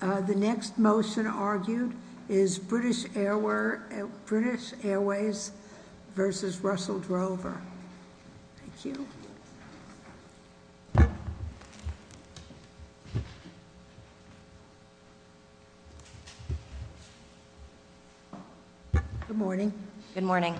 The next motion argued is British Airways v. Russell Drover. Thank you. Good morning. Good morning.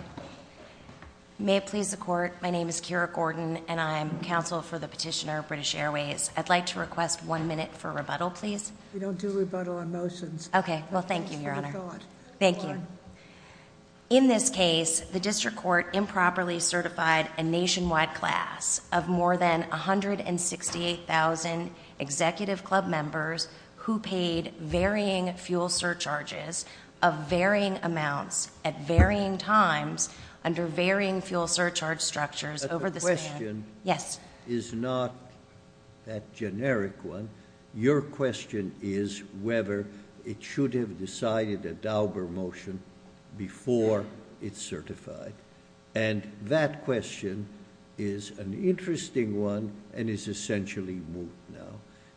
May it please the Court, my name is Kira Gordon and I am counsel for the petitioner, British Airways. I'd like to request one minute for rebuttal, please. We don't do rebuttal on motions. Okay. Well, thank you, Your Honor. Thank you. In this case, the District Court improperly certified a nationwide class of more than 168,000 executive club members who paid varying fuel surcharges of varying amounts at varying times under varying fuel surcharge structures over the span— that generic one—your question is whether it should have decided a Dauber motion before it's certified. And that question is an interesting one and is essentially moot now.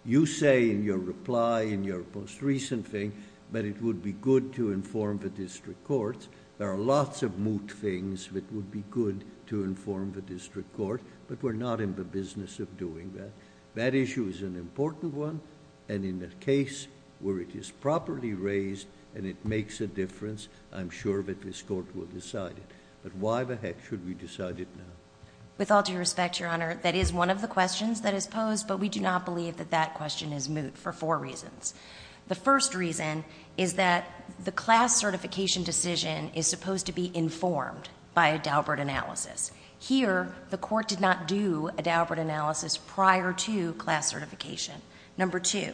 You say in your reply in your most recent thing that it would be good to inform the District Courts. There are lots of moot things that would be good to inform the District Court, but we're not in the business of doing that. That issue is an important one, and in a case where it is properly raised and it makes a difference, I'm sure that this Court will decide it. But why the heck should we decide it now? With all due respect, Your Honor, that is one of the questions that is posed, but we do not believe that that question is moot for four reasons. The first reason is that the class certification decision is supposed to be informed by a Daubert analysis. Here, the Court did not do a Daubert analysis prior to class certification. Number two,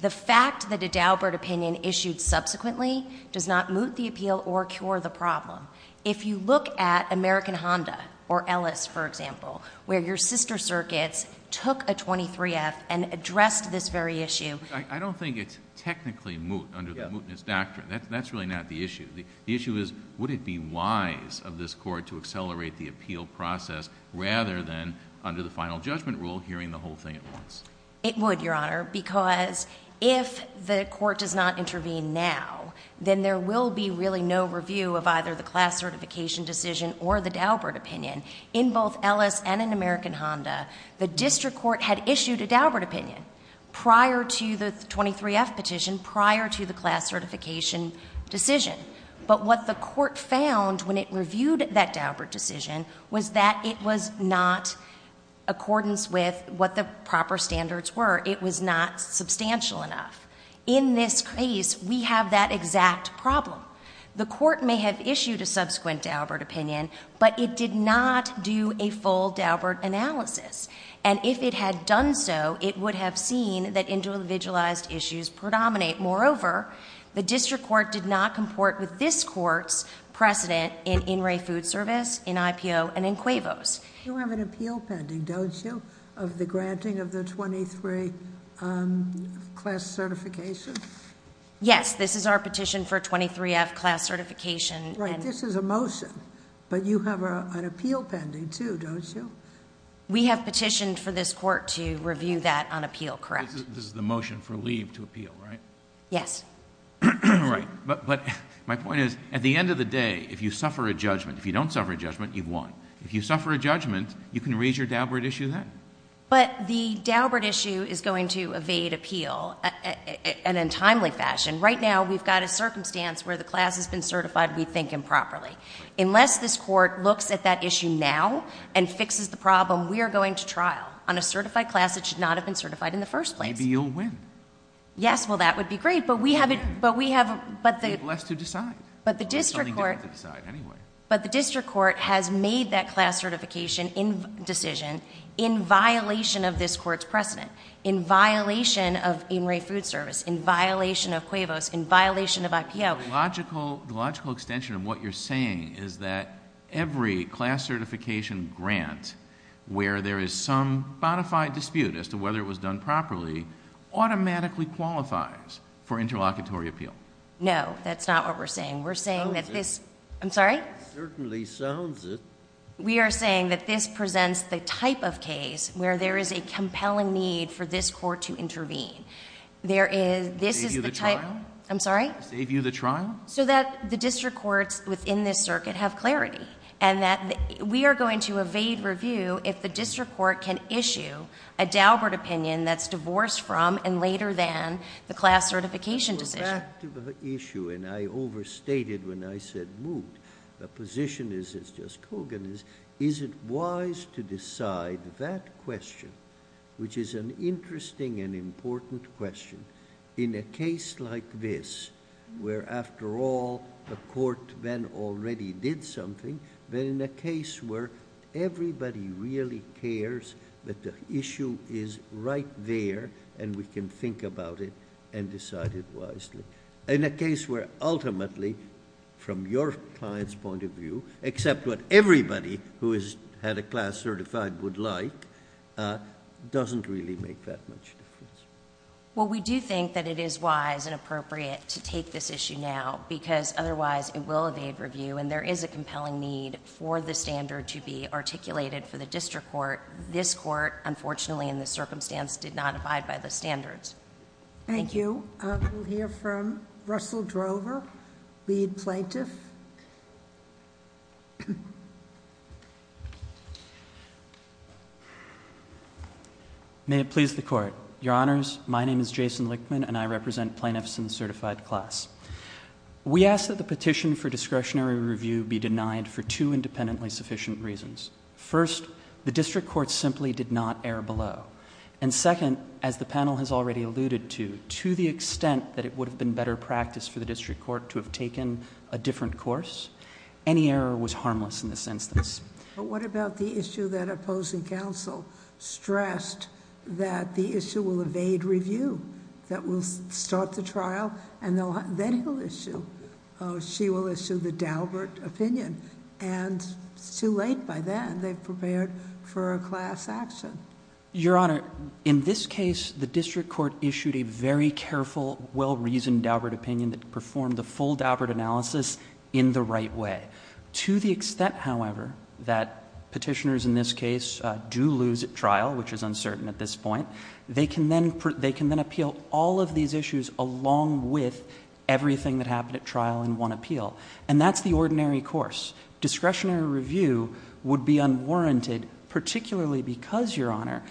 the fact that a Daubert opinion issued subsequently does not moot the appeal or cure the problem. If you look at American Honda or Ellis, for example, where your sister circuits took a 23F and addressed this very issue— I don't think it's technically moot under the mootness doctrine. That's really not the issue. The issue is, would it be wise of this Court to accelerate the appeal process rather than, under the final judgment rule, hearing the whole thing at once? It would, Your Honor, because if the Court does not intervene now, then there will be really no review of either the class certification decision or the Daubert opinion. In both Ellis and in American Honda, the district court had issued a Daubert opinion prior to the 23F petition, prior to the class certification decision. But what the Court found when it reviewed that Daubert decision was that it was not, accordance with what the proper standards were, it was not substantial enough. In this case, we have that exact problem. The Court may have issued a subsequent Daubert opinion, but it did not do a full Daubert analysis. And if it had done so, it would have seen that individualized issues predominate. Moreover, the district court did not comport with this Court's precedent in In Re Food Service, in IPO, and in CUEVOS. You have an appeal pending, don't you, of the granting of the 23 class certification? Yes, this is our petition for 23F class certification. Right, this is a motion, but you have an appeal pending, too, don't you? We have petitioned for this Court to review that on appeal, correct? This is the motion for leave to appeal, right? Yes. Right. But my point is, at the end of the day, if you suffer a judgment, if you don't suffer a judgment, you've won. If you suffer a judgment, you can raise your Daubert issue then. But the Daubert issue is going to evade appeal in a timely fashion. Right now, we've got a circumstance where the class has been certified, we think, improperly. Unless this Court looks at that issue now and fixes the problem, we are going to trial on a certified class that should not have been certified in the first place. Maybe you'll win. Yes, well, that would be great, but we have it, but we have, but the Take less to decide. But the district court It's something you have to decide anyway. But the district court has made that class certification decision in violation of this Court's precedent, in violation of In Re Food Service, in violation of CUEVOS, in violation of IPO. The logical extension of what you're saying is that every class certification grant, where there is some bonafide dispute as to whether it was done properly, automatically qualifies for interlocutory appeal. No, that's not what we're saying. We're saying that this Sounds it. I'm sorry? Certainly sounds it. We are saying that this presents the type of case where there is a compelling need for this Court to intervene. There is, this is the type Save you the trial? I'm sorry? Save you the trial? So that the district courts within this circuit have clarity and that we are going to evade review if the district court can issue a Daubert opinion that's divorced from and later than the class certification decision. Back to the issue, and I overstated when I said moved. The position is, as Judge Kogan is, is it wise to decide that question, which is an interesting and important question, in a case like this where, after all, the court then already did something, but in a case where everybody really cares that the issue is right there and we can think about it and decide it wisely. In a case where, ultimately, from your client's point of view, except what everybody who has had a class certified would like, doesn't really make that much difference. Well, we do think that it is wise and appropriate to take this issue now, because otherwise it will evade review and there is a compelling need for the standard to be articulated for the district court. This court, unfortunately, in this circumstance, did not abide by the standards. Thank you. We'll hear from Russell Drover, lead plaintiff. May it please the Court. Your Honors, my name is Jason Lichtman and I represent Plaintiffs in the Certified Class. We ask that the petition for discretionary review be denied for two independently sufficient reasons. First, the district court simply did not err below. And second, as the panel has already alluded to, to the extent that it would have been better practice for the district court to have taken a different course, any error was harmless in this instance. But what about the issue that opposing counsel stressed that the issue will evade review? That we'll start the trial and then he'll issue, she will issue the Daubert opinion. And it's too late by then. They've prepared for a class action. Your Honor, in this case, the district court issued a very careful, well-reasoned Daubert opinion that performed the full Daubert analysis in the right way. To the extent, however, that petitioners in this case do lose at trial, which is uncertain at this point, they can then appeal all of these issues along with everything that happened at trial in one appeal. And that's the ordinary course. Discretionary review would be unwarranted, particularly because, Your Honor,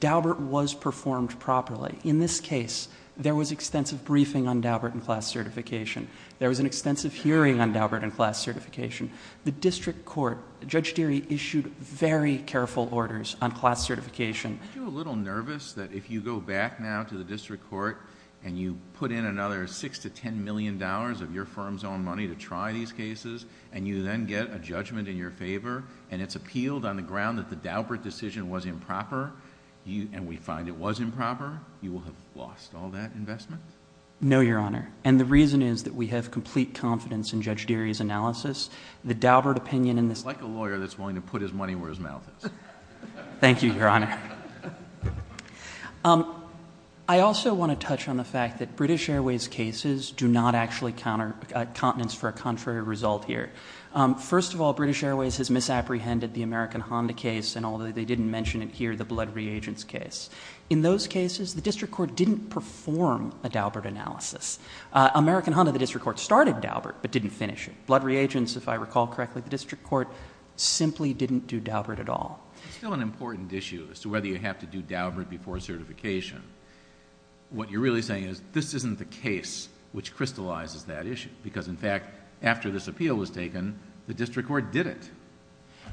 Daubert was performed properly. In this case, there was extensive briefing on Daubert in class certification. There was an extensive hearing on Daubert in class certification. The district court, Judge Deary issued very careful orders on class certification. Aren't you a little nervous that if you go back now to the district court, and you put in another $6 to $10 million of your firm's own money to try these cases, and you then get a judgment in your favor, and it's appealed on the ground that the Daubert decision was improper, and we find it was improper, you will have lost all that investment? No, Your Honor. And the reason is that we have complete confidence in Judge Deary's analysis. The Daubert opinion in this- Like a lawyer that's willing to put his money where his mouth is. Thank you, Your Honor. I also want to touch on the fact that British Airways' cases do not actually count as a contrary result here. First of all, British Airways has misapprehended the American Honda case, and although they didn't mention it here, the blood reagents case. In those cases, the district court didn't perform a Daubert analysis. American Honda, the district court started Daubert, but didn't finish it. Blood reagents, if I recall correctly, the district court simply didn't do Daubert at all. It's still an important issue as to whether you have to do Daubert before certification. What you're really saying is this isn't the case which crystallizes that issue, because, in fact, after this appeal was taken, the district court did it.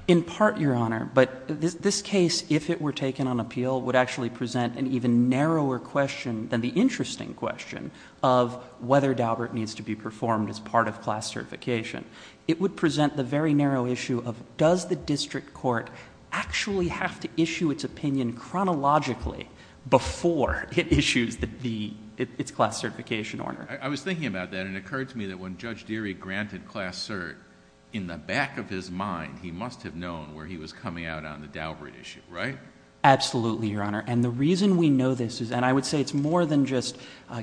In part, Your Honor, but this case, if it were taken on appeal, would actually present an even narrower question than the interesting question of whether Daubert needs to be performed as part of class certification. It would present the very narrow issue of does the district court actually have to issue its opinion chronologically before it issues its class certification order. I was thinking about that, and it occurred to me that when Judge Deary granted class cert, in the back of his mind, he must have known where he was coming out on the Daubert issue, right? Absolutely, Your Honor, and the reason we know this is, and I would say it's more than just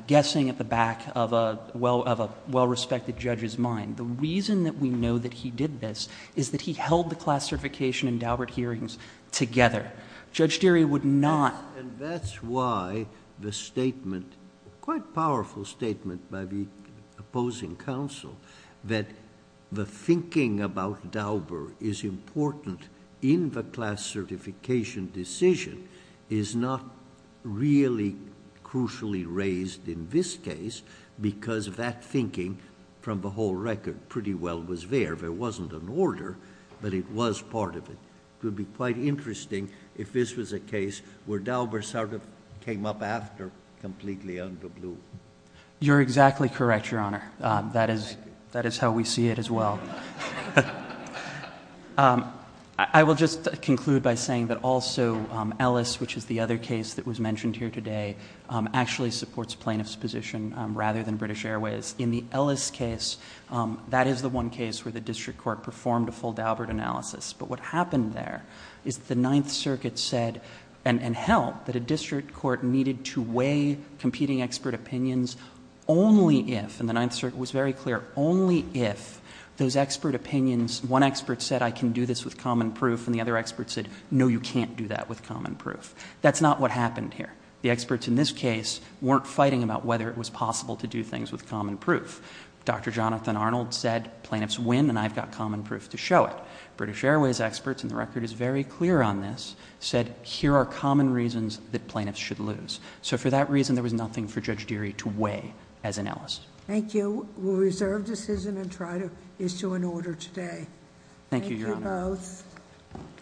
guessing at the back of a well-respected judge's mind. The reason that we know that he did this is that he held the class certification and Daubert hearings together. Judge Deary would not. And that's why the statement, quite powerful statement by the opposing counsel, that the thinking about Daubert is important in the class certification decision is not really crucially raised in this case, because that thinking, from the whole record, pretty well was there. There wasn't an order, but it was part of it. It would be quite interesting if this was a case where Daubert sort of came up after completely under blue. You're exactly correct, Your Honor. That is how we see it as well. I will just conclude by saying that also Ellis, which is the other case that was mentioned here today, actually supports plaintiff's position rather than British Airways. In the Ellis case, that is the one case where the district court performed a full Daubert analysis. But what happened there is the Ninth Circuit said, and held, that a district court needed to weigh competing expert opinions only if, and the Ninth Circuit was very clear, only if those expert opinions, one expert said, I can do this with common proof, and the other expert said, no, you can't do that with common proof. That's not what happened here. The experts in this case weren't fighting about whether it was possible to do things with common proof. Dr. Jonathan Arnold said, plaintiffs win and I've got common proof to show it. British Airways experts, and the record is very clear on this, said, here are common reasons that plaintiffs should lose. So for that reason, there was nothing for Judge Deary to weigh as an analyst. Thank you. We'll reserve decision and try to issue an order today. Thank you, Your Honor. Thank you both.